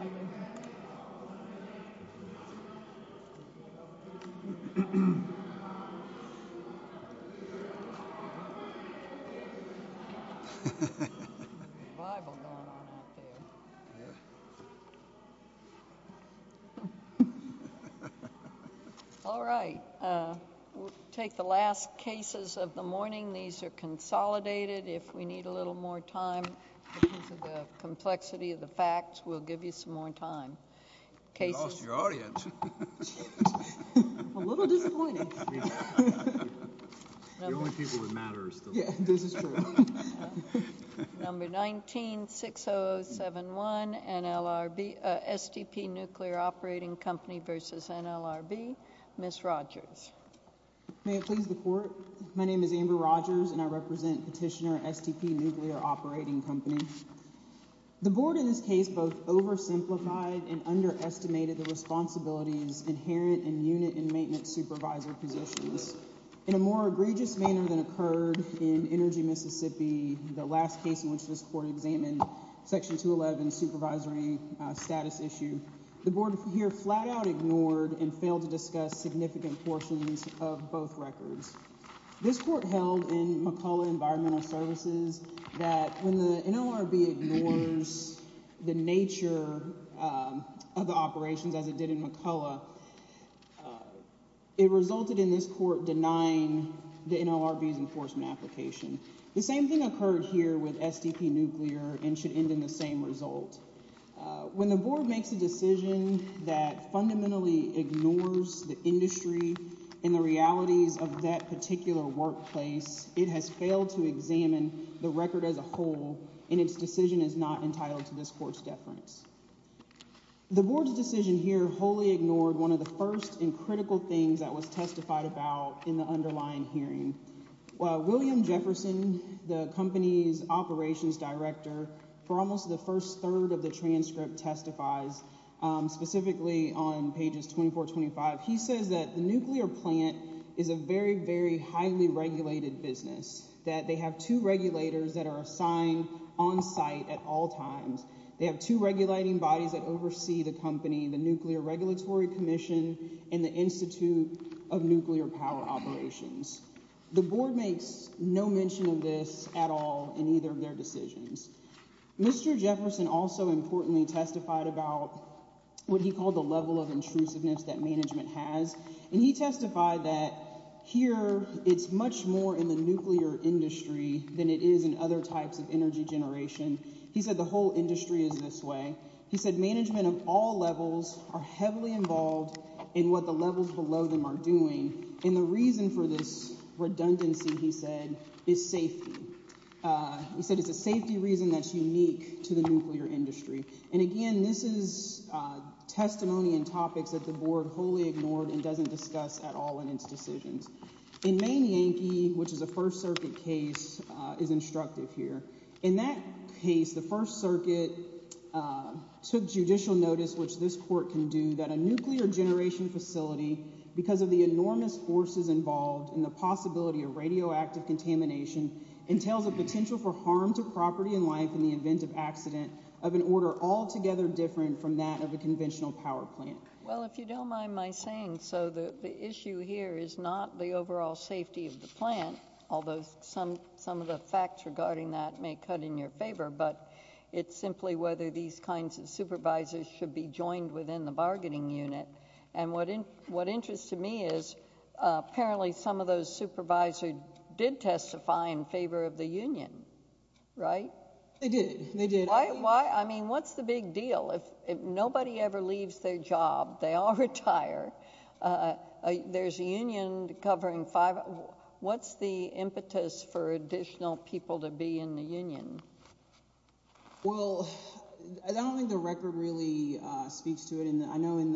All right. We'll take the last cases of the morning. These are consolidated. If we need a little more time because of the complexity of the facts, we'll give you some more time. Number 19-60071, STP Nuclear Operating Company v. NLRB, Ms. Rogers. May it please the Court, my name is Amber Rogers and I represent Petitioner STP Nuclear Operating Company. The Board in this case both oversimplified and underestimated the responsibilities inherent in unit and maintenance supervisor positions. In a more egregious manner than occurred in Energy Mississippi, the last case in which this Court examined Section 211 supervisory status issue, the Board here flat out ignored and failed to both records. This Court held in McCulloch Environmental Services that when the NLRB ignores the nature of the operations as it did in McCulloch, it resulted in this Court denying the NLRB's enforcement application. The same thing occurred here with STP Nuclear and should end in the same result. When the Board makes a decision that fundamentally ignores the industry and the realities of that particular workplace, it has failed to examine the record as a whole and its decision is not entitled to this Court's deference. The Board's decision here wholly ignored one of the first and critical things that was testified about in the underlying hearing. William Jefferson, the company's operations director, for almost the first third of the transcript testifies specifically on pages 24-25. He says that the nuclear plant is a very, very highly regulated business, that they have two regulators that are assigned on site at all times. They have two regulating bodies that oversee the company, the Nuclear Regulatory Commission and the Institute of Nuclear Power Operations. The Board makes no mention of this at all in either of their decisions. Mr. Jefferson also importantly testified about what he called the level of intrusiveness that management has and he testified that here it's much more in the nuclear industry than it is in other types of energy generation. He said the whole industry is this way. He said management of all levels are heavily involved in what the levels below them are doing and the reason for this redundancy, he said, is safety. He said it's a safety reason that's unique to the nuclear industry. And again, this is testimony and topics that the Board wholly ignored and doesn't discuss at all in its decisions. In Main Yankee, which is a First Circuit case, is instructive here. In that case, the First Circuit took judicial notice, which this court can do, that a nuclear generation facility, because of the enormous forces involved and the possibility of radioactive contamination, entails a potential for harm to property and life in the event of accident of an order altogether different from that of a conventional power plant. Well, if you don't mind my saying so, the issue here is not the overall safety of the plant, although some of the facts regarding that may cut in your favor, but it's simply whether these kinds of supervisors should be joined within the bargaining unit. And what interests me is apparently some of those supervisors did testify in favor of the union, right? They did. They did. Why? I mean, what's the big deal? If nobody ever leaves their job, they all retire. There's a union covering five. What's the impetus for additional people to be in the union? Well, I don't think the record really speaks to it. I know in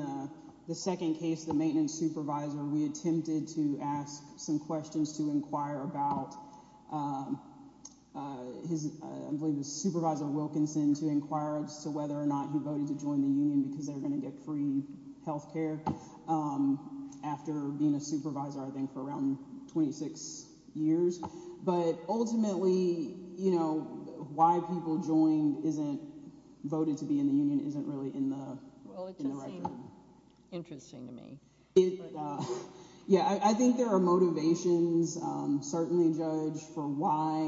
the second case, the maintenance supervisor, we attempted to ask some questions to inquire about his, I believe it was Supervisor Wilkinson, to inquire as to whether or not he voted to join the union because they're going to get free health care after being a supervisor, I think, for around 26 years. But ultimately, you know, why people joined isn't voted to be in the union isn't really in the record. Well, it doesn't seem interesting to me. Yeah, I think there are motivations, certainly, Judge, for why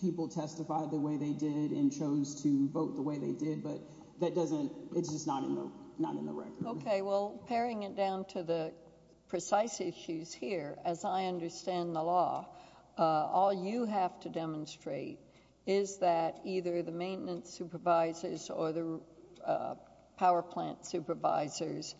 people testified the way they did and chose to vote the way they did, but that doesn't, it's just not in the record. Okay, well, paring it down to the precise issues here, as I understand the law, all you have to demonstrate is that either the maintenance supervisors or the power plant supervisors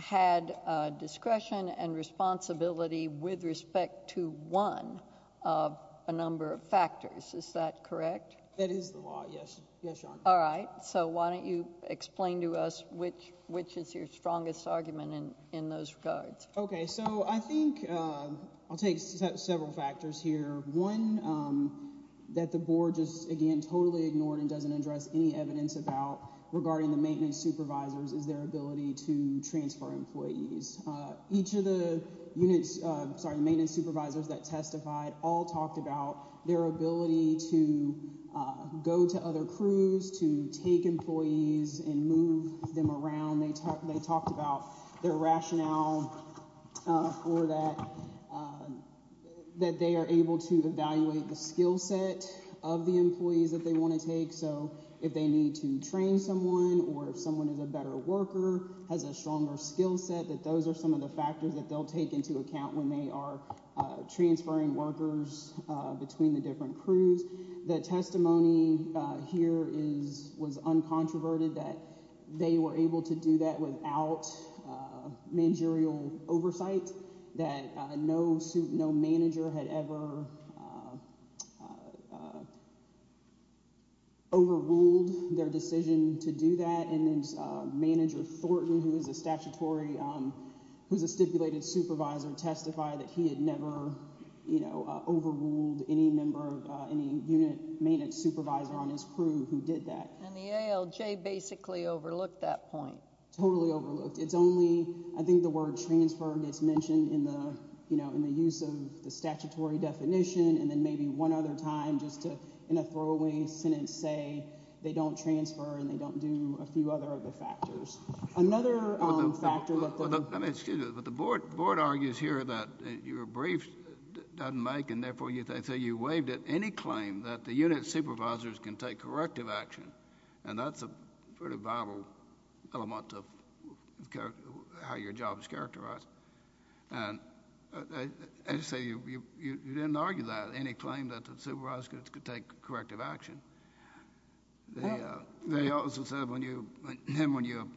had discretion and responsibility with respect to one of a number of factors. Is that correct? That is the law, yes, yes, Your Honor. All right, so why don't you explain to us which is your strongest argument in those regards? Okay, so I think I'll take several factors here. One, that the board just, again, totally ignored and doesn't address any evidence about regarding the maintenance supervisors is their ability to transfer employees. Each of the units, sorry, maintenance supervisors that testified all talked about their ability to go to other crews, to take employees and move them around. They talked about their rationale for that, that they are able to evaluate the skill set of the employees that they want to take. So, if they need to train someone or if someone is a better worker, has a stronger skill set, those are some of the factors that they'll take into account when they are transferring workers between the different crews. The testimony here was uncontroverted, that they were able to do that without managerial oversight, that no manager had ever overruled their decision to do that, and then manager Thornton, who is a statutory, who's a stipulated supervisor, testified that he had never, you know, overruled any member of any unit maintenance supervisor on his crew who did that. And the ALJ basically overlooked that point. Totally overlooked. It's only, I think the word transfer gets mentioned in the, you know, in the use of the statutory definition and then maybe one other time, just to, in a throwaway sentence, say they don't transfer and they don't do a few other of the factors. Another factor that the... I mean, excuse me, but the board argues here that your brief doesn't make, and therefore you say you waived at any claim that the unit supervisors can take corrective action, and that's a pretty vital element of how your job is to take corrective action. They also said when you, when you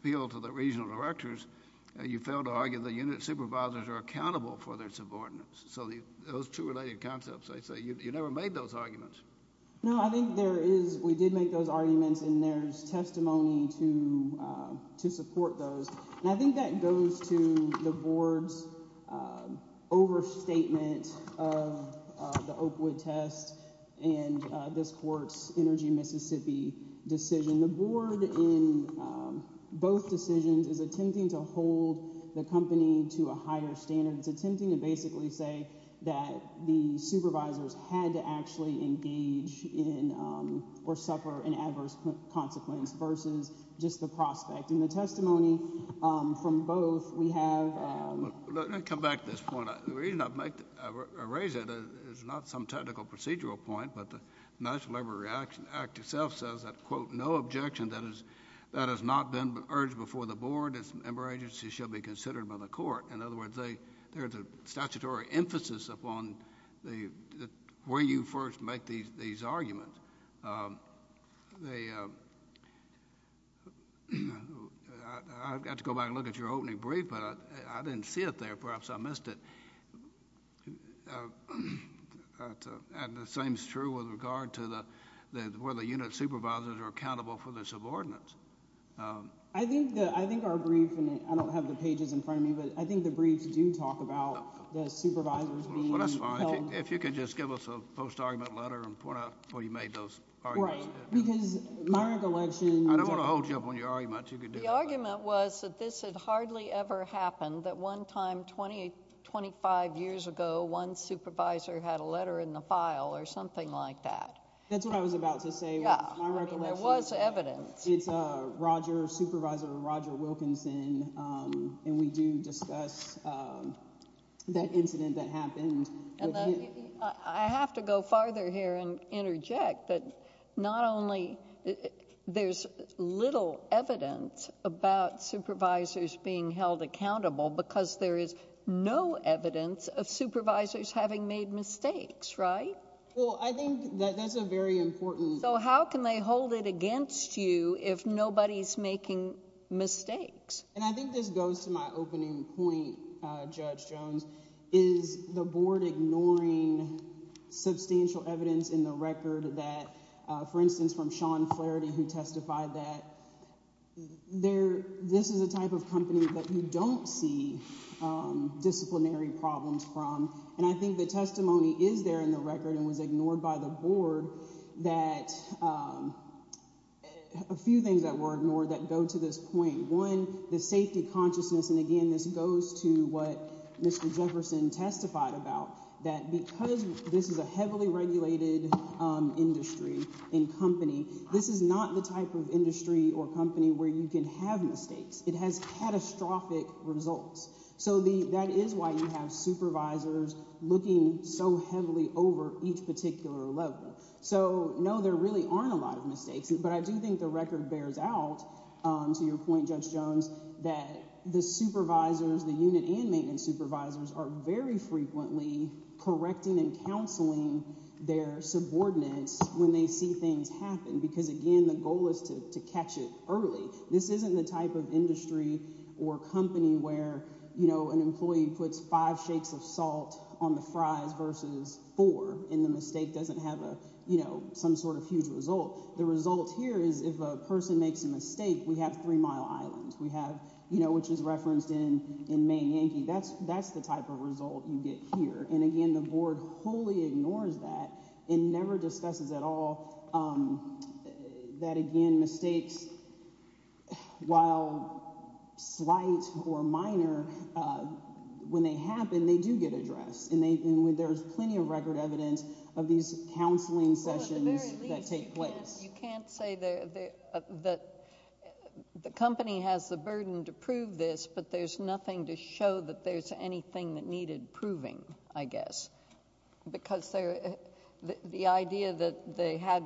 appeal to the regional directors, you fail to argue the unit supervisors are accountable for their subordinates. So those two related concepts, they say you never made those arguments. No, I think there is, we did make those arguments, and there's testimony to support those, and I think that goes to the board's overstatement of the Oakwood test and this court's Energy Mississippi decision. The board in both decisions is attempting to hold the company to a higher standard. It's attempting to basically say that the supervisors had to actually engage in or suffer an adverse consequence versus just the prospect. In the testimony from both, we have... Well, let me come back to this point. The reason I make, I raise it is not some technical procedural point, but the National Labor Act itself says that, quote, no objection that is, that has not been urged before the board, its member agencies, shall be considered by the court. In other words, they, there's a statutory emphasis upon the, where you first make these, these arguments. They, I've got to go back and look at your opening brief, but I didn't see it there. Perhaps I missed it. And the same is true with regard to the, where the unit supervisors are accountable for their subordinates. I think the, I think our brief, and I don't have the pages in front of me, but I think the briefs do talk about the supervisors being held... Well, you made those arguments. Right. Because my recollection... I don't want to hold you up on your arguments. You could do that. The argument was that this had hardly ever happened, that one time 20, 25 years ago, one supervisor had a letter in the file or something like that. That's what I was about to say. Yeah. I mean, there was evidence. It's Roger, Supervisor Roger Wilkinson, and we do discuss that incident that happened. And I have to go farther here and interject that not only there's little evidence about supervisors being held accountable because there is no evidence of supervisors having made mistakes, right? Well, I think that that's a very important... So how can they hold it against you if nobody's making mistakes? And I think this goes to my opening point, Judge Jones, is the Board ignoring substantial evidence in the record that... For instance, from Sean Flaherty, who testified that this is a type of company that you don't see disciplinary problems from. And I think the testimony is there in the record and was ignored by the Board that... a few things that were ignored that go to this point. One, the safety consciousness. And again, this goes to what Mr. Jefferson testified about, that because this is a heavily regulated industry and company, this is not the type of industry or company where you can have mistakes. It has catastrophic results. So that is why you have supervisors looking so heavily over each particular level. So, no, there really aren't a lot of that the supervisors, the unit and maintenance supervisors, are very frequently correcting and counseling their subordinates when they see things happen. Because again, the goal is to catch it early. This isn't the type of industry or company where, you know, an employee puts five shakes of salt on the fries versus four, and the mistake doesn't have a, you know, some sort of huge result. The result here is if a person makes a mistake, we have every mile island. We have, you know, which is referenced in Maine Yankee. That's the type of result you get here. And again, the Board wholly ignores that and never discusses at all that, again, mistakes, while slight or minor, when they happen, they do get addressed. And there's plenty of record evidence of these counseling sessions that take place. You can't say that the company has the burden to prove this, but there's nothing to show that there's anything that needed proving, I guess. Because the idea that they had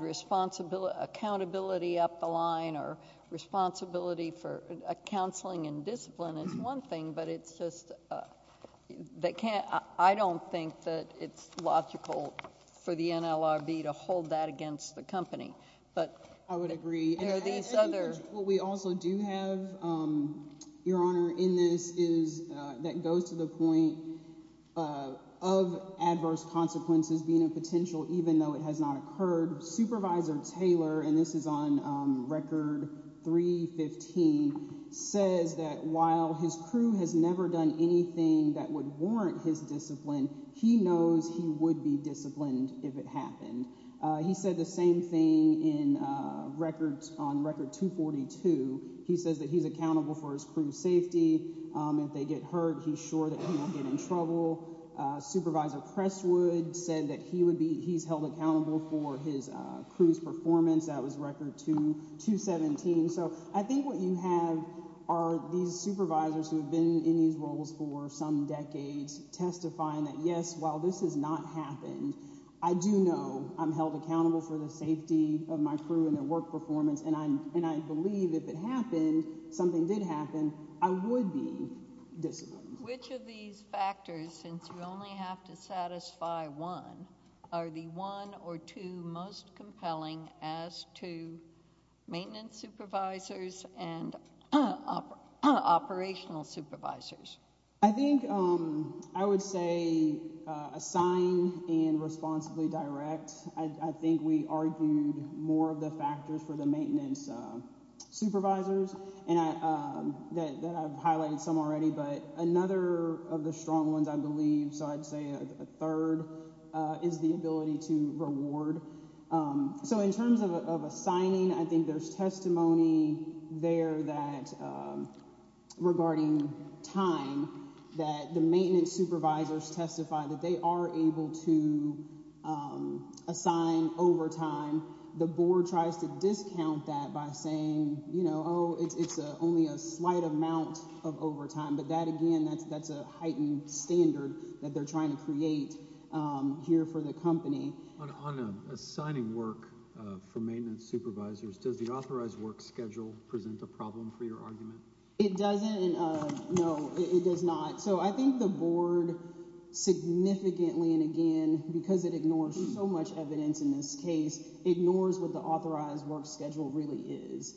accountability up the line or responsibility for counseling and discipline is one thing, but it's just that can't, I don't think that it's logical for the NLRB to hold that against the company. But I would agree. What we also do have, Your Honor, in this is that goes to the point of adverse consequences being a potential, even though it has not occurred. Supervisor Taylor, and this is on record 315, says that while his crew has never done anything that would warrant his discipline, he knows he would be disciplined if it happened. He said the same thing on record 242. He says that he's accountable for his crew safety. If they get hurt, he's sure that he won't get in trouble. Supervisor Presswood said that he's held accountable for his crew's performance that was record 217. So I think what you have are these supervisors who have been in these roles for some decades testifying that, yes, while this has not happened, I do know I'm held accountable for the safety of my crew and their work performance, and I believe if it happened, something did happen, I would be disciplined. Which of these factors, since you only have to two maintenance supervisors and operational supervisors? I think I would say assign and responsibly direct. I think we argued more of the factors for the maintenance supervisors, and that I've highlighted some already, but another of the strong ones, I believe, so I'd say a third is the ability to reward. So in terms of assigning, I think there's testimony there that, regarding time, that the maintenance supervisors testify that they are able to assign overtime. The board tries to discount that by saying, you know, oh, it's only a slight amount of overtime, but that, again, that's a heightened standard that they're trying to create here for the company. On assigning work for maintenance supervisors, does the authorized work schedule present a problem for your argument? It doesn't. No, it does not. So I think the board significantly, and again, because it ignores so much evidence in this case, ignores what the authorized work schedule really is.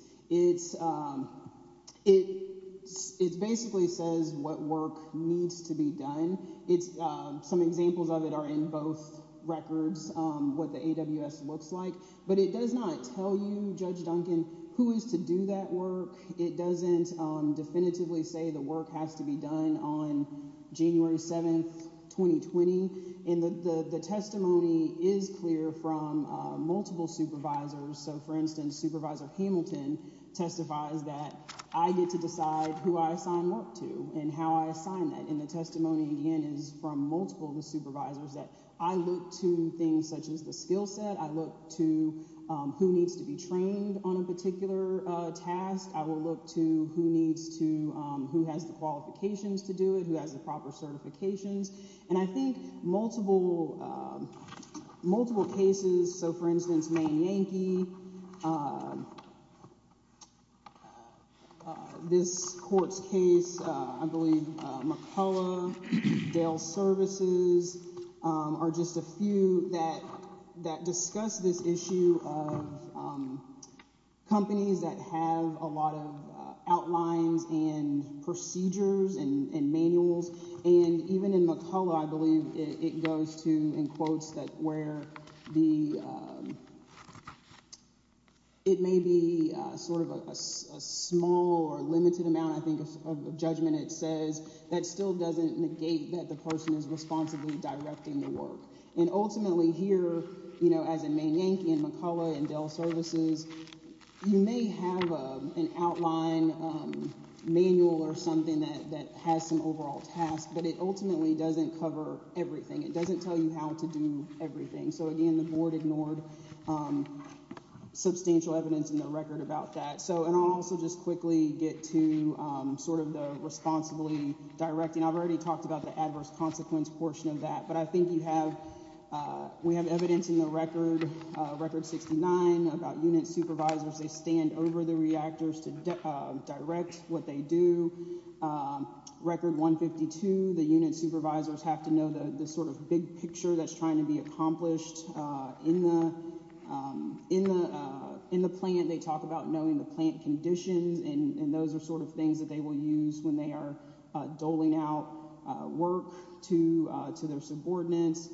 It basically says what work needs to be done. Some examples of it are in both records, what the AWS looks like, but it does not tell you, Judge Duncan, who is to do that work. It doesn't definitively say the work has to be done on January 7th, 2020, and the testimony is from multiple supervisors. So, for instance, Supervisor Hamilton testifies that I get to decide who I assign work to and how I assign that, and the testimony, again, is from multiple of the supervisors that I look to things such as the skill set. I look to who needs to be trained on a particular task. I will look to who needs to, who has the qualifications to do it, who has the proper cases. So, for instance, Main Yankee, this court's case, I believe McCullough, Dale Services, are just a few that discuss this issue of companies that have a lot of outlines and procedures and manuals, and even in McCullough, I believe it goes to, in quotes, that where it may be sort of a small or limited amount, I think, of judgment, it says that still doesn't negate that the person is responsibly directing the work, and ultimately here, you know, as in a manual or something that has some overall task, but it ultimately doesn't cover everything. It doesn't tell you how to do everything. So, again, the board ignored substantial evidence in the record about that. So, and I'll also just quickly get to sort of the responsibly directing. I've already talked about the adverse consequence portion of that, but I think you have, we have evidence in the record, Record 69, about unit supervisors, they stand over the reactors to direct what they do. Record 152, the unit supervisors have to know the sort of big picture that's trying to be accomplished in the plant. They talk about knowing the plant conditions, and those are sort of things that they will use when they are doling out work to their subordinates.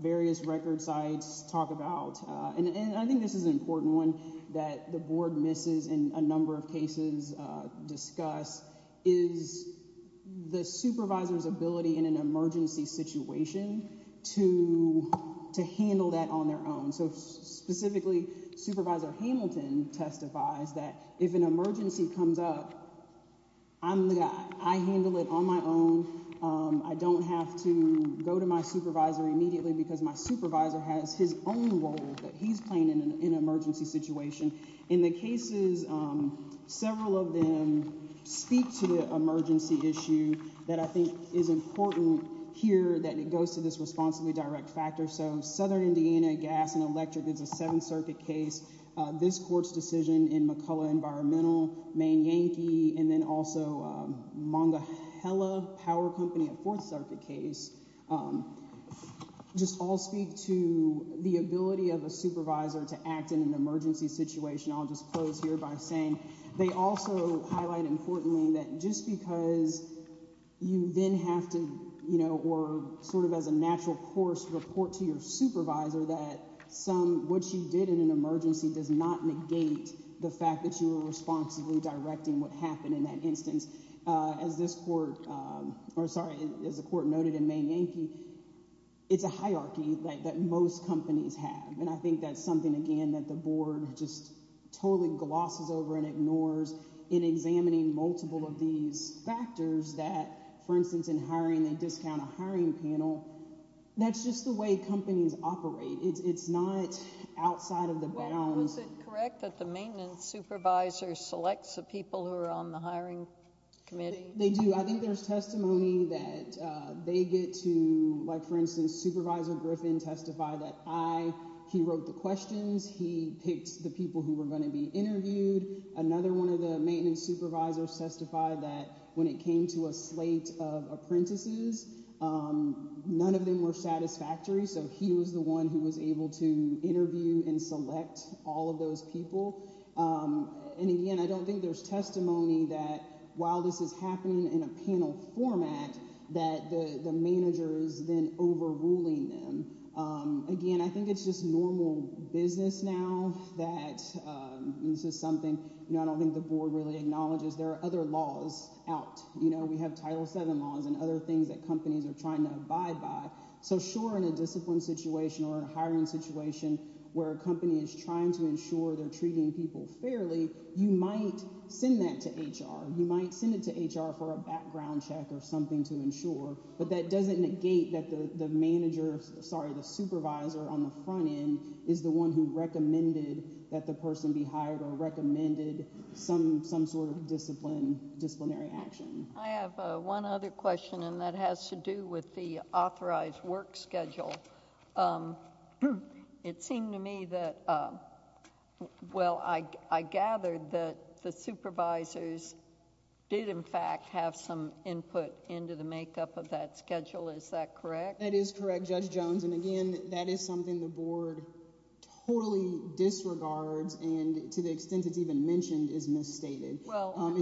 Various record sites talk about, and I think this is an important one, that the board misses in a number of cases discussed, is the supervisor's ability in an emergency situation to handle that on their own. So, specifically, Supervisor Hamilton testifies that if an emergency comes up, I'm the guy. I handle it on my own. I don't have to go to my supervisor immediately because my supervisor has his own role that he's playing in an emergency situation. In the cases, several of them speak to the emergency issue that I think is important here that it goes to this responsibly direct factor. So, Southern Indiana Gas and Electric, it's a Seventh Circuit case. This court's decision in McCullough Environmental, Maine Yankee, and then also Mongahela Power Company, a Fourth Circuit case, just all speak to the ability of a supervisor to act in an emergency situation. I'll just close here by saying they also highlight, importantly, that just because you then have to, you know, or sort of as a natural course, report to your supervisor that some what you did in an emergency does not negate the fact that you were responsibly directing what happened in that instance. As this court, or sorry, as the court noted in Maine Yankee, it's a hierarchy that most companies have, and I think that's something, again, that the board just totally glosses over and ignores in examining multiple of these factors that, for instance, in hiring, they discount a hiring panel. That's just the way companies operate. It's not outside of the bounds. Was it correct that the maintenance supervisor selects the people who are on the hiring committee? They do. I think there's testimony that they get to, like, for instance, Supervisor Griffin testified that I, he wrote the questions, he picked the people who were going to be interviewed. Another one of the maintenance supervisors testified that when it came to a slate of apprentices, none of them were satisfactory, so he was the one who was able to select all of those people, and again, I don't think there's testimony that while this is happening in a panel format that the manager is then overruling them. Again, I think it's just normal business now that this is something, you know, I don't think the board really acknowledges. There are other laws out. You know, we have Title VII laws and other things that companies are trying to abide by, so sure, in a discipline situation or a hiring situation where a company is trying to ensure they're treating people fairly, you might send that to HR. You might send it to HR for a background check or something to ensure, but that doesn't negate that the manager, sorry, the supervisor on the front end is the one who recommended that the person be hired or recommended some sort of disciplinary action. I have one other question, and that has to do with the authorized work schedule. It seemed to me that, well, I gathered that the supervisors did, in fact, have some input into the makeup of that schedule. Is that correct? That is correct, Judge Jones, and again, that is something the board totally disregards and to the extent it's even mentioned is misstated.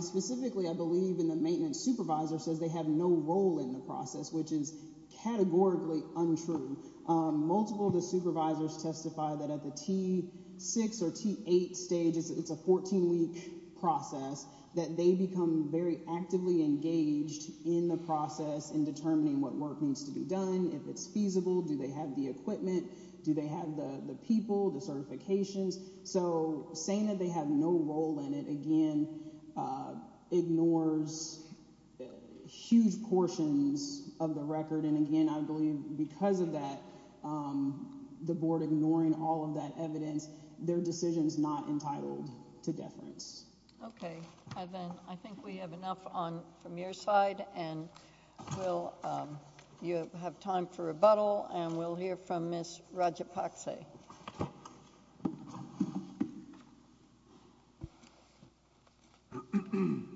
Specifically, I believe in the maintenance supervisor says they have no role in the process, which is categorically untrue. Multiple of the supervisors testify that at the T6 or T8 stage, it's a 14-week process, that they become very actively engaged in the process in determining what work needs to be done, if it's feasible, do they have the equipment, do they have the people, the certifications, so saying that they have no role in it, again, ignores huge portions of the record, and again, I believe because of that, the board ignoring all of that evidence, their decision is not entitled to deference. Okay. I think we have enough from your side, and we'll, you have time for rebuttal, and we'll hear from Ms. Rajapakse. Thank you,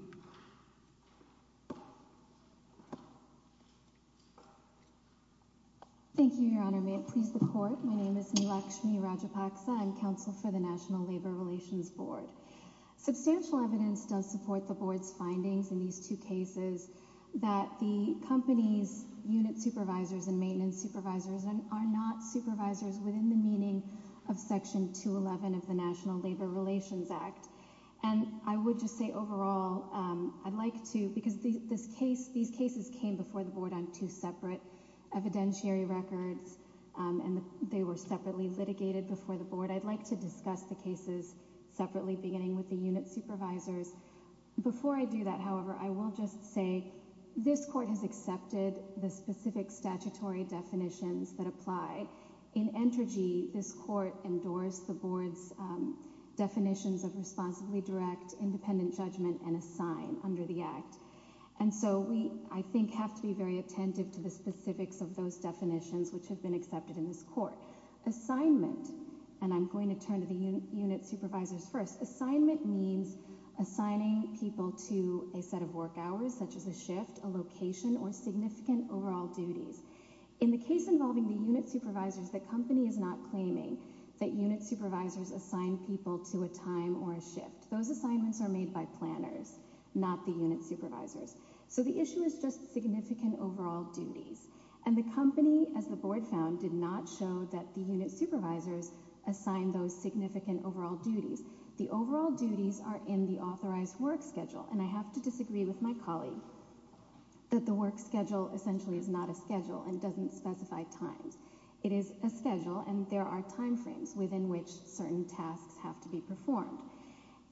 Your Honor. May it please the Court, my name is Neelakshmi Rajapakse, I'm counsel for the National Labor Relations Board. Substantial evidence does support the board's findings in these two cases that the company's unit supervisors and maintenance supervisors are not supervisors within the meaning of Section 211 of the National Labor Relations Act. And I would just say overall, I'd like to, because these cases came before the board on two separate evidentiary records, and they were separately litigated before the board, I'd like to discuss the cases separately, beginning with the unit supervisors. Before I do that, however, I will just say this Court has accepted the specific statutory definitions that apply. In Entergy, this Court endorsed the board's definitions of responsibly direct, independent judgment, and assign under the Act. And so we, I think, have to be very attentive to the specifics of those definitions which have been accepted in this Court. Assignment, and I'm going to turn to the unit supervisors first. Assignment means assigning people to a set of work hours, such as a shift, a location, or significant overall duties. In the case involving the unit supervisors, the company is claiming that unit supervisors assign people to a time or a shift. Those assignments are made by planners, not the unit supervisors. So the issue is just significant overall duties. And the company, as the board found, did not show that the unit supervisors assigned those significant overall duties. The overall duties are in the authorized work schedule, and I have to disagree with my colleague that the work schedule essentially is not a schedule and doesn't specify times. It is a schedule, and there are time frames within which certain tasks have to be performed.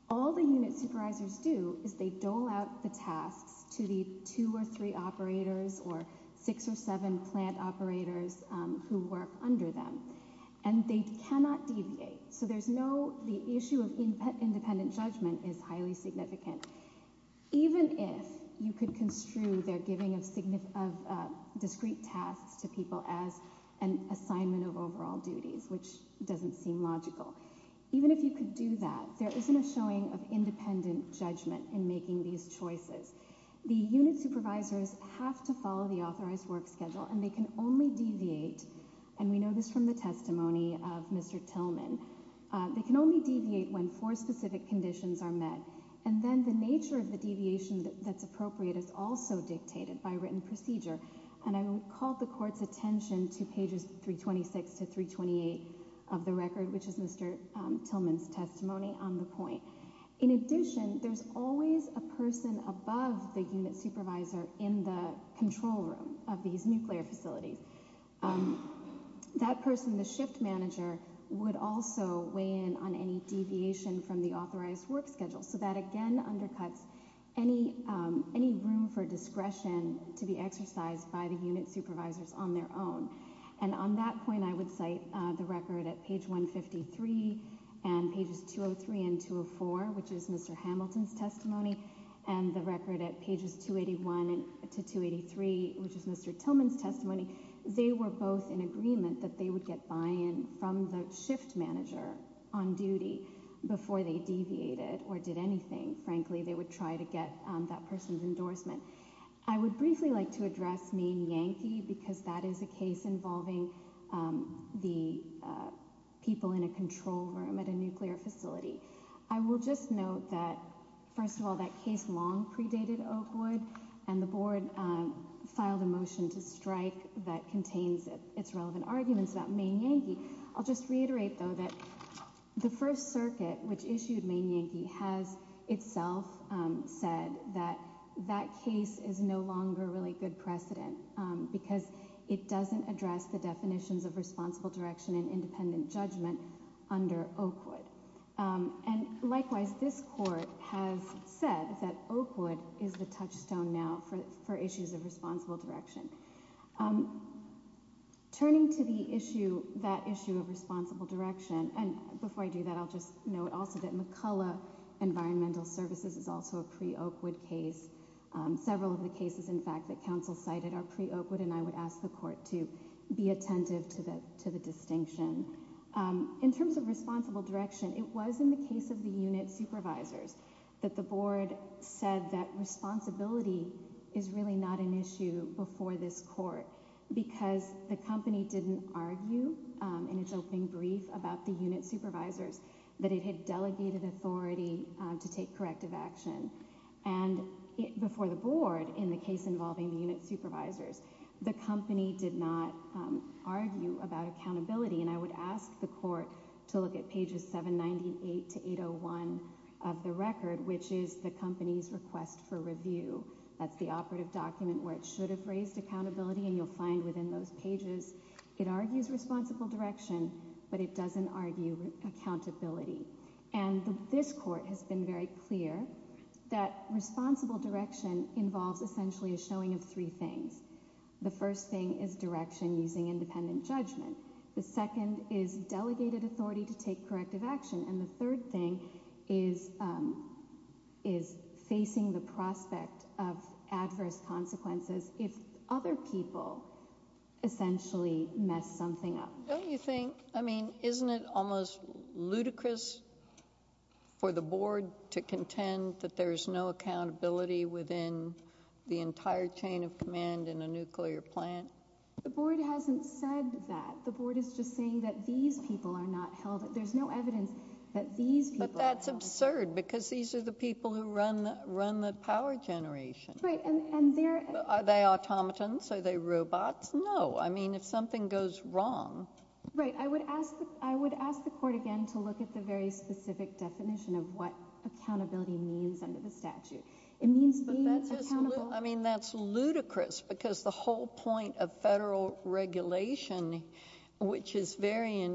All the unit supervisors do is they dole out the tasks to the two or three operators or six or seven plant operators who work under them, and they cannot deviate. So there's no, the issue of independent judgment is highly significant. Even if you could construe their discrete tasks to people as an assignment of overall duties, which doesn't seem logical, even if you could do that, there isn't a showing of independent judgment in making these choices. The unit supervisors have to follow the authorized work schedule, and they can only deviate, and we know this from the testimony of Mr. Tillman, they can only deviate when four specific conditions are met. And then the nature of the deviation that's appropriate is also dictated by procedure, and I would call the court's attention to pages 326 to 328 of the record, which is Mr. Tillman's testimony on the point. In addition, there's always a person above the unit supervisor in the control room of these nuclear facilities. That person, the shift manager, would also weigh in on any deviation from the authorized work schedule, so that again undercuts any room for the exercise by the unit supervisors on their own. And on that point, I would cite the record at page 153 and pages 203 and 204, which is Mr. Hamilton's testimony, and the record at pages 281 to 283, which is Mr. Tillman's testimony. They were both in agreement that they would get buy-in from the shift manager on duty before they deviated or did anything. Frankly, they would try get that person's endorsement. I would briefly like to address Maine Yankee because that is a case involving the people in a control room at a nuclear facility. I will just note that, first of all, that case long predated Oakwood, and the board filed a motion to strike that contains its relevant arguments about Maine Yankee. I'll just reiterate, though, that the First Circuit, which issued Maine Yankee, said that that case is no longer really good precedent because it doesn't address the definitions of responsible direction and independent judgment under Oakwood. And likewise, this court has said that Oakwood is the touchstone now for issues of responsible direction. Turning to the issue, that issue of responsible direction, and before I do that, I'll just note also that McCullough Environmental Services is also a pre-Oakwood case. Several of the cases, in fact, that counsel cited are pre-Oakwood, and I would ask the court to be attentive to the distinction. In terms of responsible direction, it was in the case of the unit supervisors that the board said that responsibility is really not an issue before this court because the company didn't argue in its opening brief about the unit supervisors, that it had delegated authority to take corrective action. And before the board, in the case involving the unit supervisors, the company did not argue about accountability, and I would ask the court to look at pages 798 to 801 of the record, which is the company's request for review. That's the operative document where it should have raised accountability, and you'll find within those pages it argues responsible direction, but it doesn't argue accountability. And this court has been very clear that responsible direction involves essentially a showing of three things. The first thing is direction using independent judgment. The second is delegated authority to take corrective action, and the third thing is facing the prospect of adverse consequences if other people essentially mess something up. Don't you think, I mean, isn't it almost ludicrous for the board to contend that there's no accountability within the entire chain of command in a nuclear plant? The board hasn't said that. The board is just saying that these people are not held, there's no evidence that these people are held. But that's absurd, because these are the people who run the power generation. Right, and they're... Are they automatons? Are they robots? No. I mean, if something goes wrong... Right. I would ask the court again to look at the very specific definition of what accountability means under the statute. It means being accountable... But that's just, I mean, that's ludicrous, because the whole point of federal regulation, which is very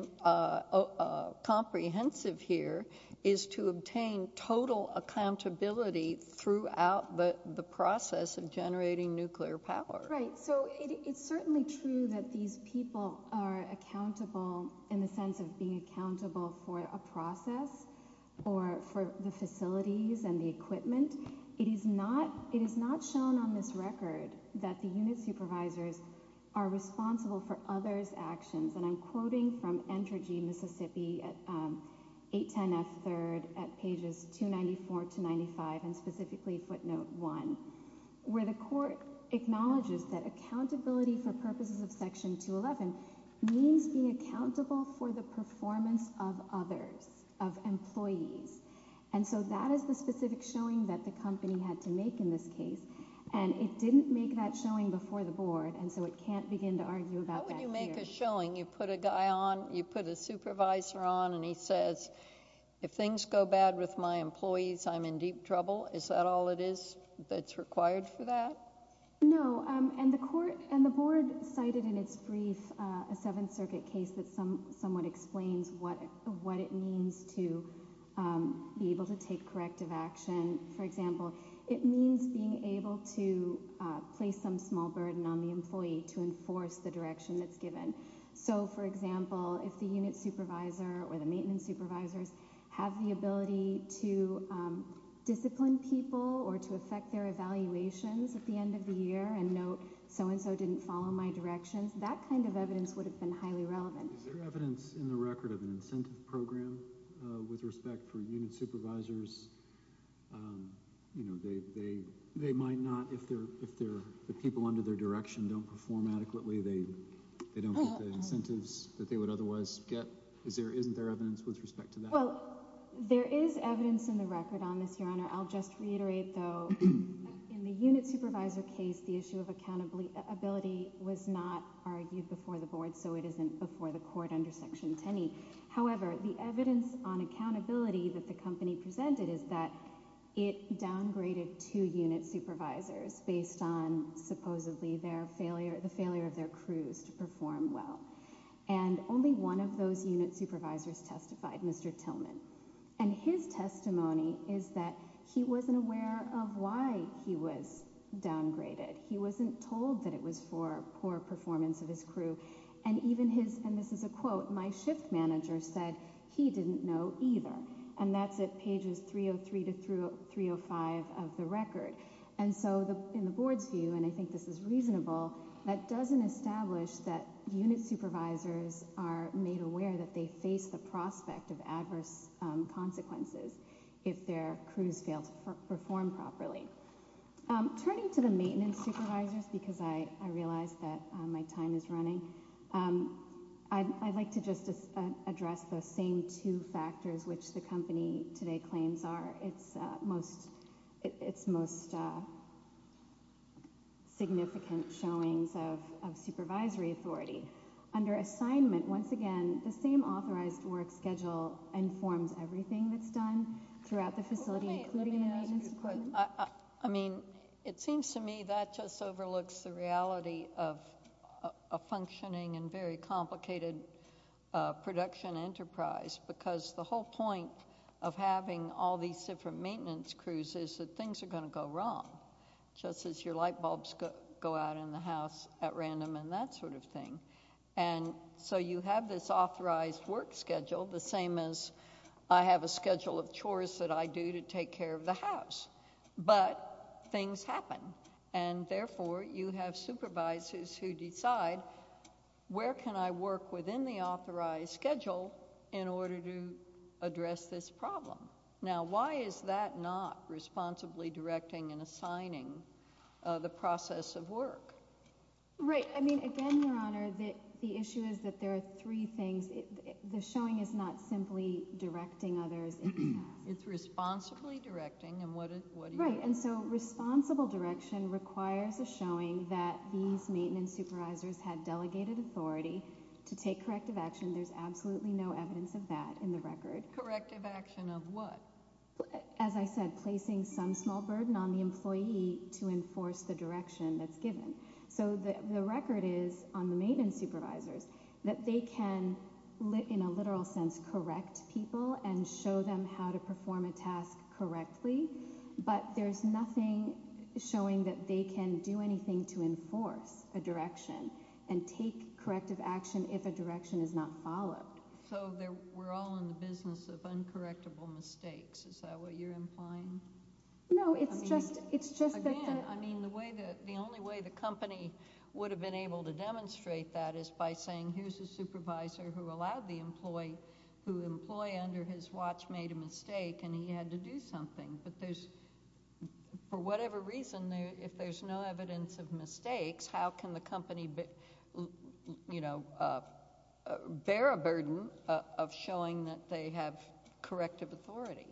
comprehensive here, is to obtain total accountability throughout the process of generating nuclear power. Right, so it's certainly true that these people are accountable in the sense of being accountable for a process or for the facilities and the equipment. It is not shown on this record that the unit supervisors are responsible for others' actions, and I'm quoting from Entergy, Mississippi, at 810 F. 3rd, at pages 294 to 95, and specifically footnote one, where the court acknowledges that accountability for purposes of section 211 means being accountable for the performance of others, of employees. And so that is the specific showing that the company had to make in this case, and it didn't make that showing before the board, and so it can't begin to argue about that. How would you make a showing? You put a guy on, you put a supervisor on, and he says, if things go bad with my employees, I'm in deep trouble. Is that all it is that's required for that? No, and the court and the board cited in its brief a Seventh Circuit case that somewhat explains what it means to be able to take corrective action. For example, it means being able to place some small burden on the employee to enforce the direction that's given. So, for example, if the unit supervisor or the maintenance supervisors have the ability to discipline people or to affect their evaluations at the end of the year and note so-and-so didn't follow my directions, that kind of evidence would have been highly relevant. Is there evidence in the record of an incentive program with respect for unit supervisors that they might not, if the people under their direction don't perform adequately, they don't get the incentives that they would otherwise get? Isn't there evidence with respect to that? Well, there is evidence in the record on this, Your Honor. I'll just reiterate, though, in the unit supervisor case, the issue of accountability was not argued before the board, so it isn't before the court under Section 10e. However, the evidence on accountability that the downgraded two unit supervisors based on, supposedly, the failure of their crews to perform well, and only one of those unit supervisors testified, Mr. Tillman, and his testimony is that he wasn't aware of why he was downgraded. He wasn't told that it was for poor performance of his crew, and even his, and this is a quote, my shift manager said he didn't know either, and that's at pages 303 to 305 of the record, and so in the board's view, and I think this is reasonable, that doesn't establish that unit supervisors are made aware that they face the prospect of adverse consequences if their crews fail to perform properly. Turning to the maintenance supervisors, because I realize that my time is running, I'd like to just address those same two factors which the company today claims are its most significant showings of supervisory authority. Under assignment, once again, the same authorized work schedule informs everything that's done throughout the facility, including the maintenance I mean, it seems to me that just overlooks the reality of a functioning and very complicated production enterprise, because the whole point of having all these different maintenance crews is that things are going to go wrong, just as your light bulbs go out in the house at random and that sort of thing, and so you have this authorized work schedule, the same as I have a schedule of the house, but things happen, and therefore, you have supervisors who decide, where can I work within the authorized schedule in order to address this problem? Now, why is that not responsibly directing and assigning the process of work? Right, I mean, again, Your Honor, the issue is that there are three things. The showing is not simply directing others. It's responsibly directing, and what do you mean? Right, and so responsible direction requires a showing that these maintenance supervisors had delegated authority to take corrective action. There's absolutely no evidence of that in the record. Corrective action of what? As I said, placing some small burden on the employee to enforce the direction that's given, so the record is on the maintenance supervisors that they can, in a literal sense, correct people and show them how to perform a task correctly, but there's nothing showing that they can do anything to enforce a direction and take corrective action if a direction is not followed. So, we're all in the business of uncorrectable mistakes. Is that what you're implying? No, it's just, it's just, again, I mean, the way that, the only way the company would have been able to demonstrate that is by saying, here's a supervisor who allowed the employee, who employee under his watch made a mistake, and he had to do something, but there's, for whatever reason, there, if there's no evidence of mistakes, how can the company, you know, bear a burden of showing that they have corrective authority?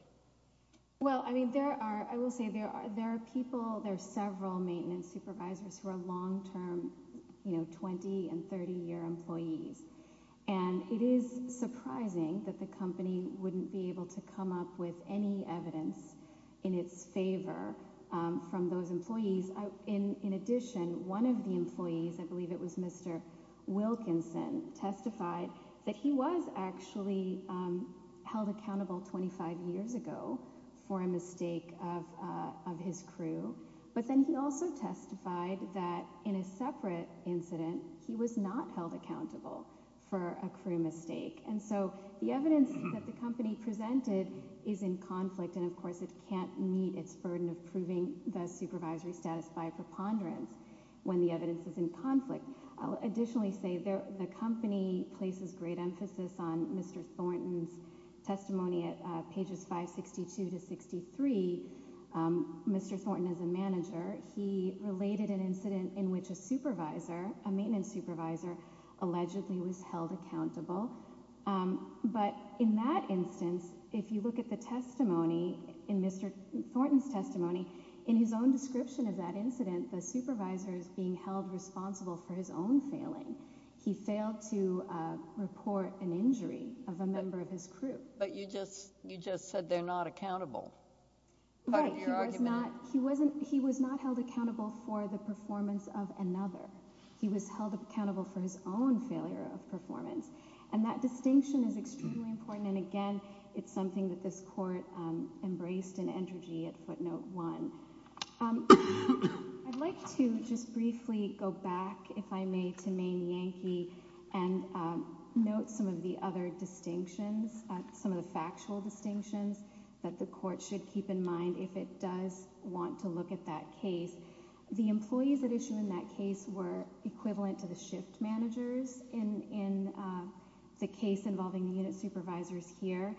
Well, I mean, there are, I will say, there are, there are people, there are several maintenance supervisors who are long-term, you know, 20 and 30-year employees, and it is surprising that the company wouldn't be able to come up with any evidence in its favor from those employees. In addition, one of the employees, I believe it was Mr. Wilkinson, testified that he was actually held accountable 25 years ago for a mistake of his crew, but then he also testified that in a separate incident, he was not held accountable for a crew mistake, and so the evidence that the company presented is in conflict, and of course, it can't meet its burden of proving the supervisory status by preponderance when the evidence is in conflict. I'll additionally say there, the company places great emphasis on Mr. Thornton's testimony at pages 562 to 63. Mr. Thornton is a manager. He related an incident in which a supervisor, a maintenance supervisor, allegedly was held accountable, but in that instance, if you look at the testimony in Mr. Thornton's testimony, in his own description of that incident, the supervisor is being held responsible for his own failing. He failed to report an injury of a member of his crew. But you just said they're not accountable. Right. He was not held accountable for the performance of another. He was held accountable for his own failure of performance, and that distinction is extremely important, and again, it's something that this court embraced in entrogy at footnote one. I'd like to just briefly go back, if I may, to Maine Yankee and note some of the other distinctions, some of the factual distinctions that the court should keep in mind if it does want to look at that case. The employees at issue in that case were equivalent to the shift managers in the case involving the unit supervisors here.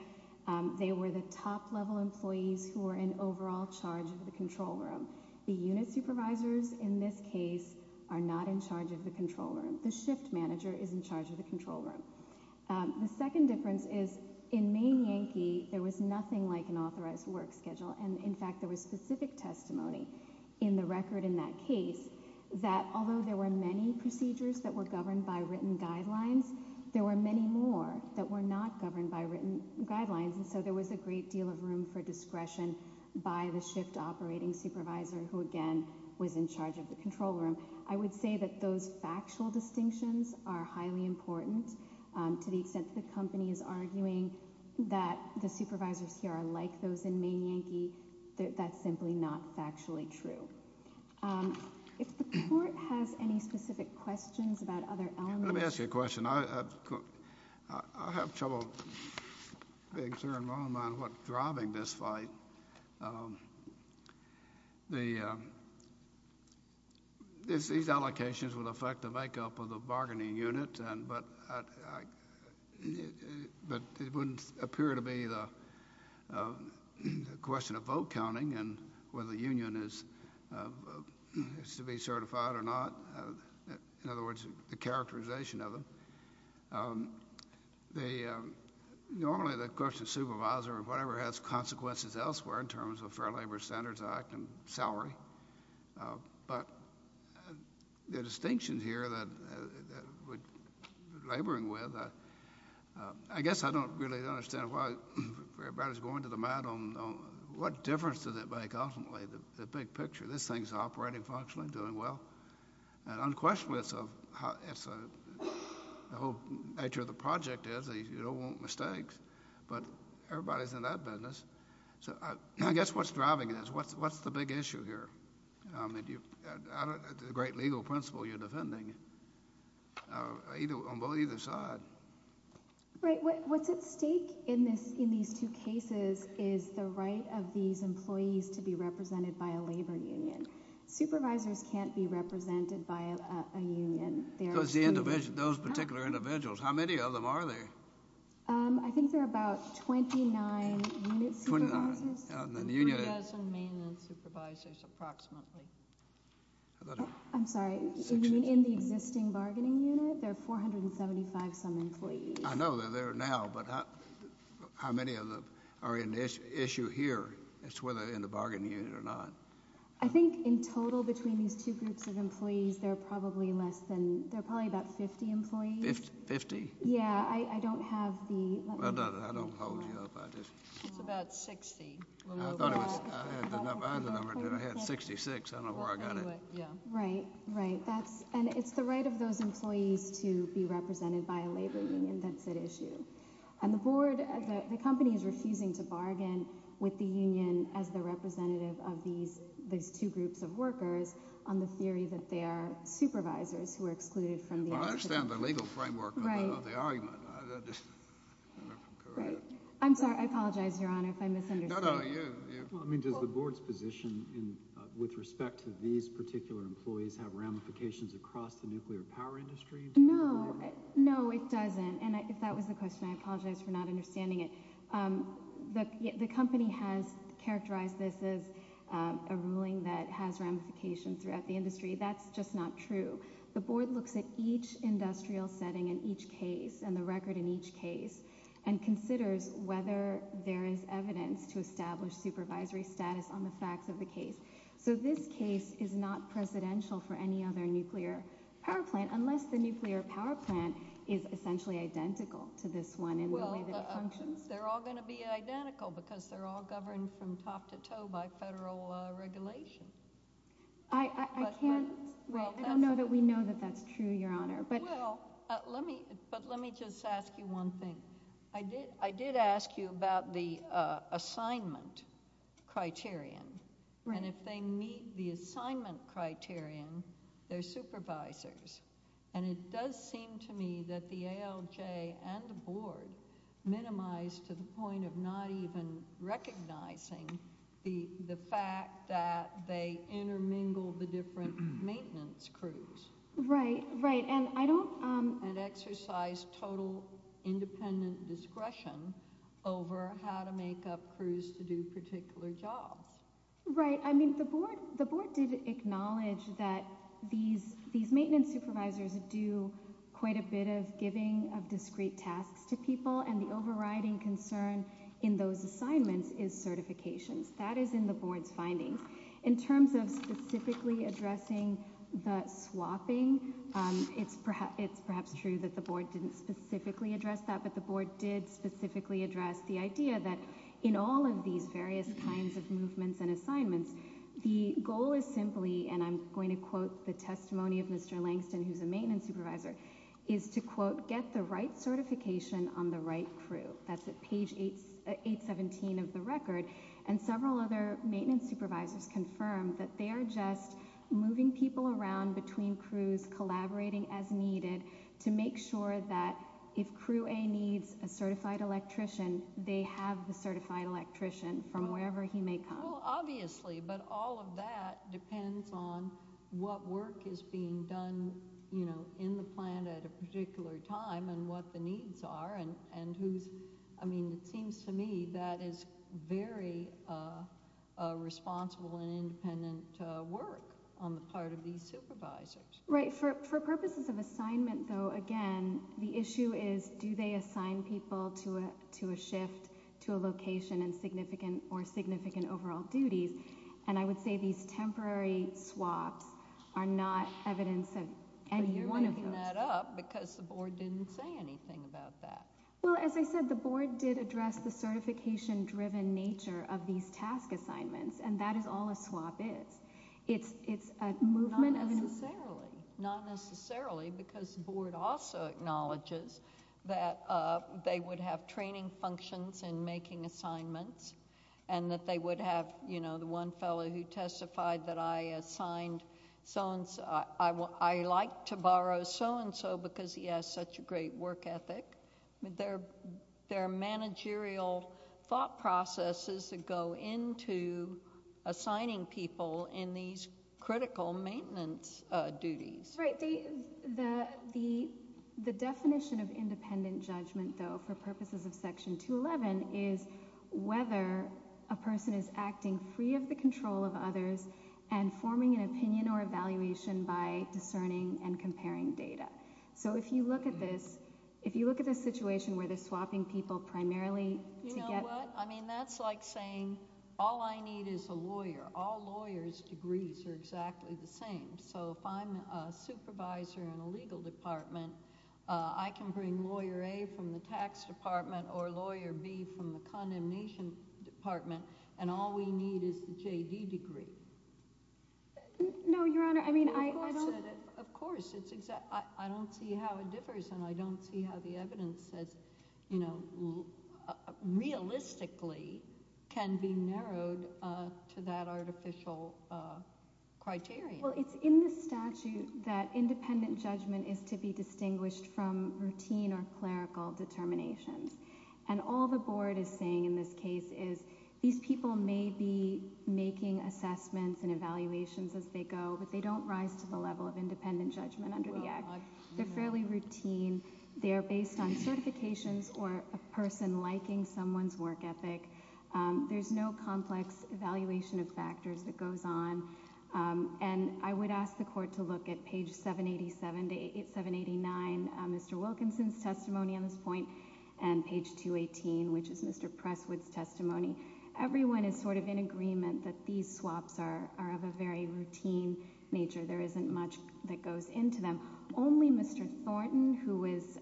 They were the top level employees who were in overall charge of the control room. The unit supervisors in this case are not in charge of the control room. The shift manager is in charge of the control room. The second difference is in Maine Yankee, there was nothing like an authorized work schedule, and in fact, there was specific testimony in the record in that case that although there were many procedures that were governed by written guidelines, there were many more that were not governed by written guidelines, and so there was a great deal of room for discretion by the was in charge of the control room. I would say that those factual distinctions are highly important to the extent that the company is arguing that the supervisors here are like those in Maine Yankee, that's simply not factually true. If the court has any specific questions about other elements. Let me ask you a question. I have trouble being sure in my own mind what driving this fight. The, these allocations would affect the makeup of the bargaining unit, and but but it wouldn't appear to be the question of vote counting and whether the union is is to be certified or not. In other words, the characterization of them. The, normally the question of supervisor or whatever has consequences elsewhere in terms of Fair Labor Standards Act and salary, but the distinction here that we're laboring with, I guess I don't really understand why everybody's going to the mat on what difference does it make ultimately the big picture. This thing's operating functionally, doing well, and unquestionably it's the whole nature of the project is you don't want mistakes, but everybody's in that business. So I guess what's driving this? What's, what's the big issue here? I mean do you, the great legal principle you're defending either on both either side. Right, what's at stake in this, in these two cases is the right of these employees to be represented by a labor union. Supervisors can't be represented by a union. Because the individual, those particular individuals, how many of them are there? I think there are about 29 unit supervisors. 29. And the union. 3,000 mainland supervisors approximately. I'm sorry, in the existing bargaining unit there are 475 some employees. I know they're there now, but how many of them are in this issue here? It's whether in the bargaining unit or not. I think in total between these two groups of employees there are probably less than, there are probably about 50 employees. 50? Yeah, I don't have the. I don't hold you up. It's about 60. I had 66. I don't know where I got it. Yeah, right, right. That's, and it's the right of those employees to be represented by a labor union that's at issue. And the board, the company is refusing to bargain with the union as the representative of these two groups of workers on the theory that they are supervisors who are excluded from the argument. I understand the legal framework of the argument. Right. I'm sorry, I apologize, Your Honor, if I misunderstood. No, no, you. I mean, does the board's position in, with respect to these particular employees, have ramifications across the nuclear power industry? No, no, it doesn't. And if that was the question, I apologize for not understanding it. The company has characterized this as a ruling that has ramifications throughout the industry. That's just not true. The board looks at each industrial setting in each case and the record in each case and considers whether there is evidence to establish supervisory status on the facts of the case. So this case is not presidential for any other nuclear power plant, is essentially identical to this one in the way that it functions? Well, they're all going to be identical because they're all governed from top to toe by federal regulation. I, I, I can't. Well, I don't know that we know that that's true, Your Honor, but. Well, let me, but let me just ask you one thing. I did, I did ask you about the assignment criterion. Right. And if they meet the assignment criterion, they're supervisors. And it does seem to me that the ALJ and the board minimize to the point of not even recognizing the, the fact that they intermingle the different maintenance crews. Right, right. And I don't. And exercise total independent discretion over how to acknowledge that these, these maintenance supervisors do quite a bit of giving of discrete tasks to people and the overriding concern in those assignments is certifications. That is in the board's findings. In terms of specifically addressing the swapping, it's, it's perhaps true that the board didn't specifically address that, but the board did specifically address the idea that in all of these various kinds of movements and assignments, the goal is simply, and I'm going to quote the testimony of Mr. Langston, who's a maintenance supervisor, is to quote, get the right certification on the right crew. That's at page 8, 817 of the record. And several other maintenance supervisors confirmed that they are just moving people around between crews, collaborating as needed to make sure that if Crew A needs a certified electrician, they have the certified electrician from wherever he may come. Well, obviously, but all of that depends on what work is being done, you know, in the plant at a particular time and what the needs are and, and who's, I mean, it seems to me that is very responsible and independent work on the part of these supervisors. Right, for, for purposes of assignment though, again, the issue is do they assign people to a, to a shift, to a location and significant or significant overall duties, and I would say these temporary swaps are not evidence of any one of those. But you're making that up because the board didn't say anything about that. Well, as I said, the board did address the certification-driven nature of these task assignments, and that is all a swap is. It's, it's a movement. Not necessarily, not necessarily, because this board also acknowledges that they would have training functions in making assignments and that they would have, you know, the one fellow who testified that I assigned so-and-so, I will, I like to borrow so-and-so because he has such a great work ethic. I mean, there are, there are managerial thought processes that go into assigning people in these critical maintenance duties. Right, the, the, the definition of independent judgment though, for purposes of Section 211, is whether a person is acting free of the control of others and forming an opinion or evaluation by discerning and comparing data. So if you look at this, if you look at this situation where they're swapping people primarily to get... You know what, I mean, that's like saying all I need is a lawyer. All I need is one supervisor in a legal department. I can bring lawyer A from the tax department or lawyer B from the condemnation department, and all we need is the J.D. degree. No, Your Honor, I mean, I don't... Of course, it's exactly, I don't see how it differs, and I don't see how the evidence says, you know, realistically can be narrowed to that artificial criteria. Well, it's in the statute that independent judgment is to be distinguished from routine or clerical determinations, and all the Board is saying in this case is these people may be making assessments and evaluations as they go, but they don't rise to the level of independent judgment under the Act. They're fairly routine. They are based on certifications or a person liking someone's work ethic. There's no complex evaluation of factors that goes on, and I would ask the Court to look at page 787 to 789, Mr. Wilkinson's testimony on this point, and page 218, which is Mr. Presswood's testimony. Everyone is sort of in agreement that these swaps are of a very routine nature. There isn't much that goes into them. Only Mr. Thornton, who was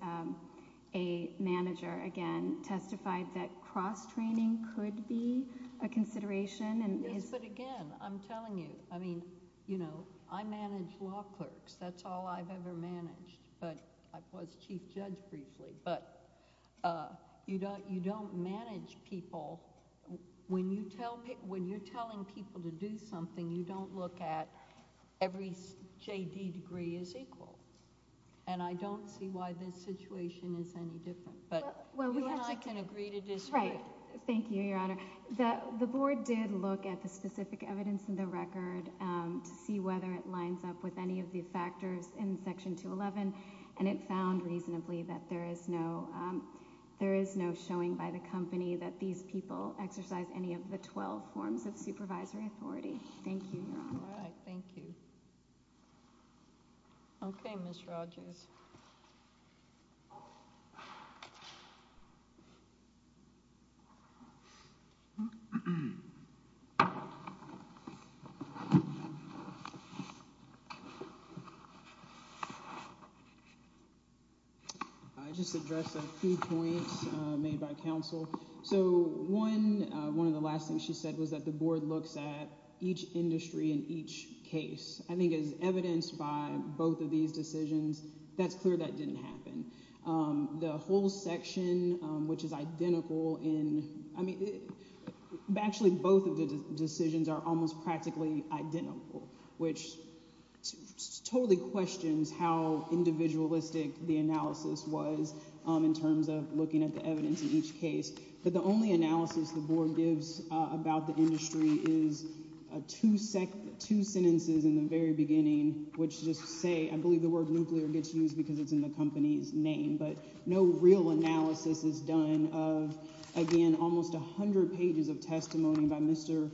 a manager, again, testified that cross-training could be a consideration. Yes, but again, I'm telling you, I mean, you know, I manage law clerks. That's all I've ever managed, but I was Chief Judge briefly, but you don't manage people. When you're telling people to do something, you don't look at every J.D. degree is equal, and I don't see why this situation is any different, but you and I can agree to disagree. Thank you, Your Honor. The Board did look at the specific evidence in the record to see whether it lines up with any of the factors in Section 211, and it found reasonably that there is no showing by the company that these people exercise any of the 12 forms of supervisory authority. Thank you, Your Honor. All right, thank you. Okay, Ms. Rogers. I just addressed a few points made by counsel. So, one of the last things she said was that the Board looks at each industry in each case. I think it's evidenced by both of these decisions that that's clear that didn't happen. The whole section, which is identical in, I mean, actually both of the decisions are almost practically identical, which totally questions how individualistic the analysis was in terms of looking at the evidence in each case, but the only analysis the Board gives about the industry is two sentences in the very beginning, which just say, I believe the word nuclear gets used because it's in the company's name, but no real analysis is done of, again, almost 100 pages of testimony by Mr.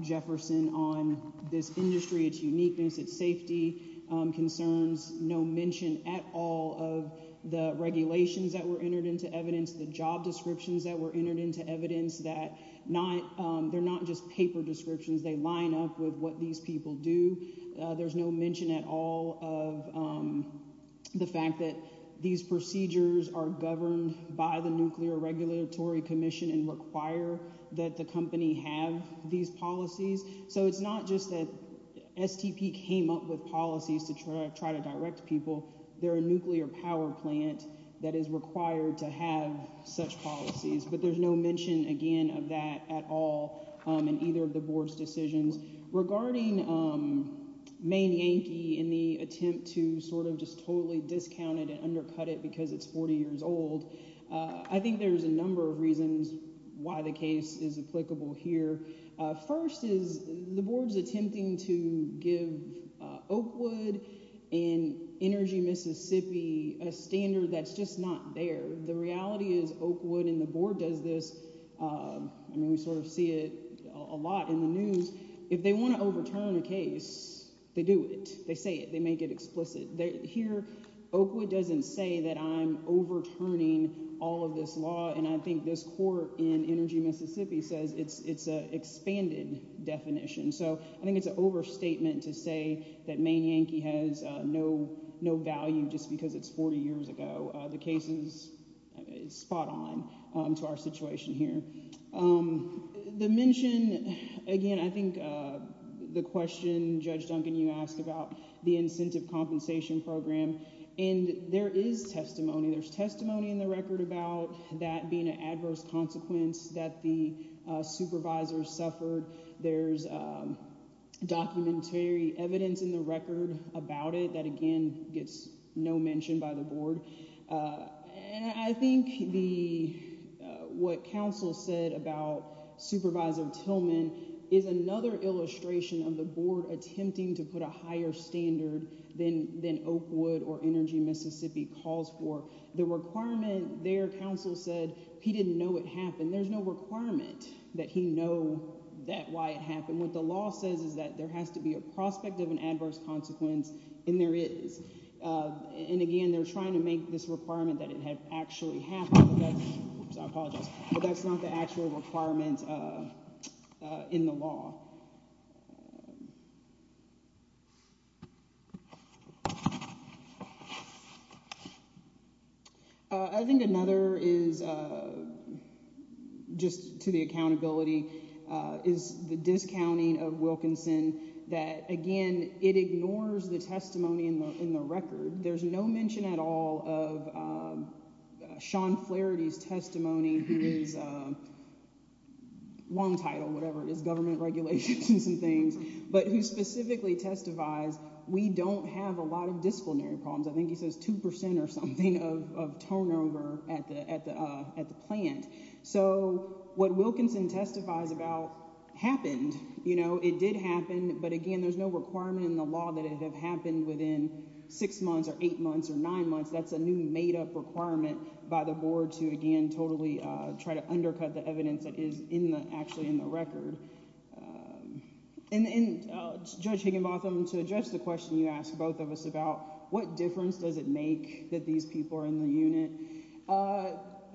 Jefferson on this industry, its uniqueness, its safety concerns, no mention at all of the regulations that were entered into evidence, the job descriptions that were entered into evidence, that they're not just paper There's no mention at all of the fact that these procedures are governed by the Nuclear Regulatory Commission and require that the company have these policies. So, it's not just that STP came up with policies to try to direct people. They're a nuclear power plant that is required to have such policies, but there's no mention again of that at all in either of the Board's decisions. Regarding Maine Yankee in the attempt to sort of just totally discount it and undercut it because it's 40 years old, I think there's a number of reasons why the case is applicable here. First is the Board's attempting to give Oakwood and Energy Mississippi a standard that's just not there. The reality is Oakwood and the Board does this, I mean we sort of see it a lot in the they want to overturn a case, they do it. They say it. They make it explicit. Here, Oakwood doesn't say that I'm overturning all of this law and I think this court in Energy Mississippi says it's an expanded definition. So, I think it's an overstatement to say that Maine Yankee has no value just because it's 40 years ago. The case is spot on to our situation here. The mention again, I think the question Judge Duncan, you asked about the incentive compensation program and there is testimony. There's testimony in the record about that being an adverse consequence that the supervisors suffered. There's documentary evidence in the record about it that again gets no mention by the Board. I think what counsel said about Supervisor Tillman is another illustration of the Board attempting to put a higher standard than Oakwood or Energy Mississippi calls for. The requirement there, counsel said, he didn't know it happened. There's no requirement that he know that why it happened. What the law says is that has to be a prospect of an adverse consequence and there is. And again, they're trying to make this requirement that it had actually happened. I apologize, but that's not the actual requirement in the law. I think another is just to the accountability is the discounting of Wilkinson that again, it ignores the testimony in the in the record. There's no mention at all of Sean Flaherty's long title, whatever it is, government regulations and things, but who specifically testifies we don't have a lot of disciplinary problems. I think he says 2% or something of turnover at the at the plant. So what Wilkinson testifies about happened, you know, it did happen. But again, there's no requirement in the law that it have happened within six months or eight months or nine months. That's a new made up requirement by the board to again, totally try to undercut the evidence that is in the actually in the record. And then Judge Higginbotham to address the question you asked both of us about what difference does it make that these people are in the unit?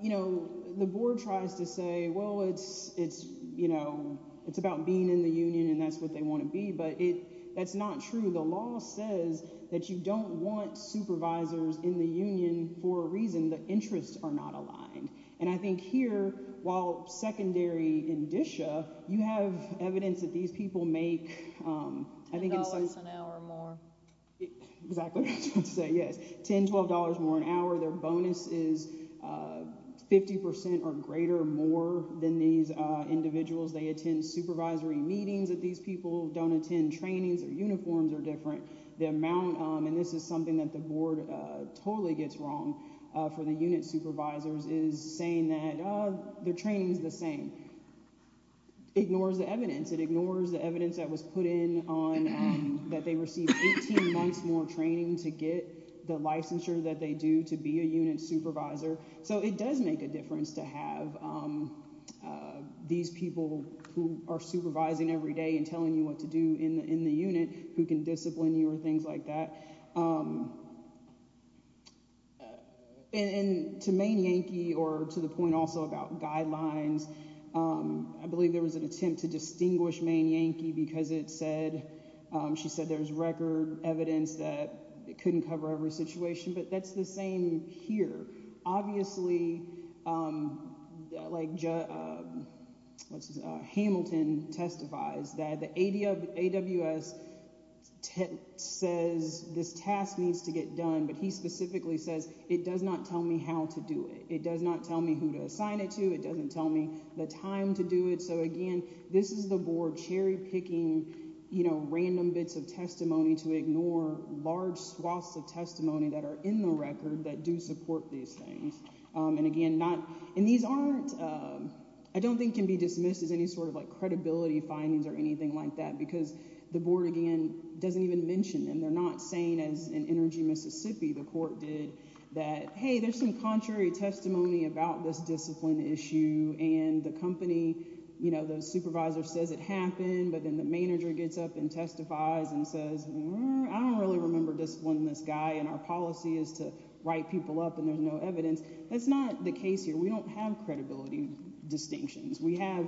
You know, the board tries to say, well, it's it's, you know, it's about being in the union and that's what they want to be. But it that's not true. The law says that you don't want supervisors in the union for a reason that interests are not aligned. And I think here, while secondary in Disha, you have evidence that these people make, I think, an hour or more. Exactly. Yes. $10, $12 more an hour. Their bonus is 50% or greater more than these individuals. They attend supervisory meetings that these people don't attend trainings or uniforms are different. The amount and this is something that the board totally gets wrong for the unit supervisors is saying that their training is the same. Ignores the evidence, it ignores the evidence that was put in on that they received 18 months more training to get the licensure that they do to be a unit supervisor. So it does make a difference to have these people who are supervising every day telling you what to do in the unit who can discipline you or things like that. And to main Yankee or to the point also about guidelines, I believe there was an attempt to distinguish main Yankee because it said she said there's record evidence that it couldn't cover but that's the same here. Obviously, like Hamilton testifies that the AWS says this task needs to get done, but he specifically says it does not tell me how to do it. It does not tell me who to assign it to. It doesn't tell me the time to do it. So again, this is the board cherry picking, you know, random bits of testimony to ignore large swaths of testimony that are in the record that do support these things. And again, not in these aren't I don't think can be dismissed as any sort of like credibility findings or anything like that because the board again doesn't even mention them. They're not saying as an energy Mississippi, the court did that. Hey, there's some contrary testimony about this discipline issue and the company, you know, the supervisor says it happened, but then the manager gets up and testifies and says, I don't really remember discipline this guy and our policy is to write people up and there's no evidence. That's not the case here. We don't have credibility distinctions. We have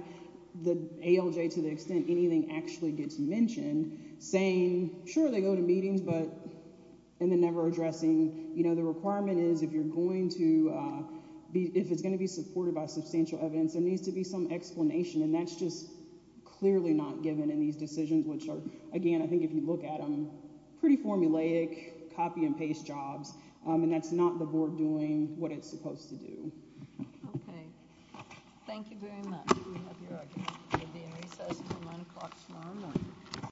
the ALJ to the extent anything actually gets mentioned saying sure they go to meetings, but and then never addressing, you know, the requirement is if you're going to be if it's going to be supported by substantial evidence, there needs to be some explanation. And that's just clearly not given in these decisions, which are, again, I think if you look at them pretty formulaic copy and paste jobs, and that's not the board doing what it's supposed to do. Okay. Thank you very much.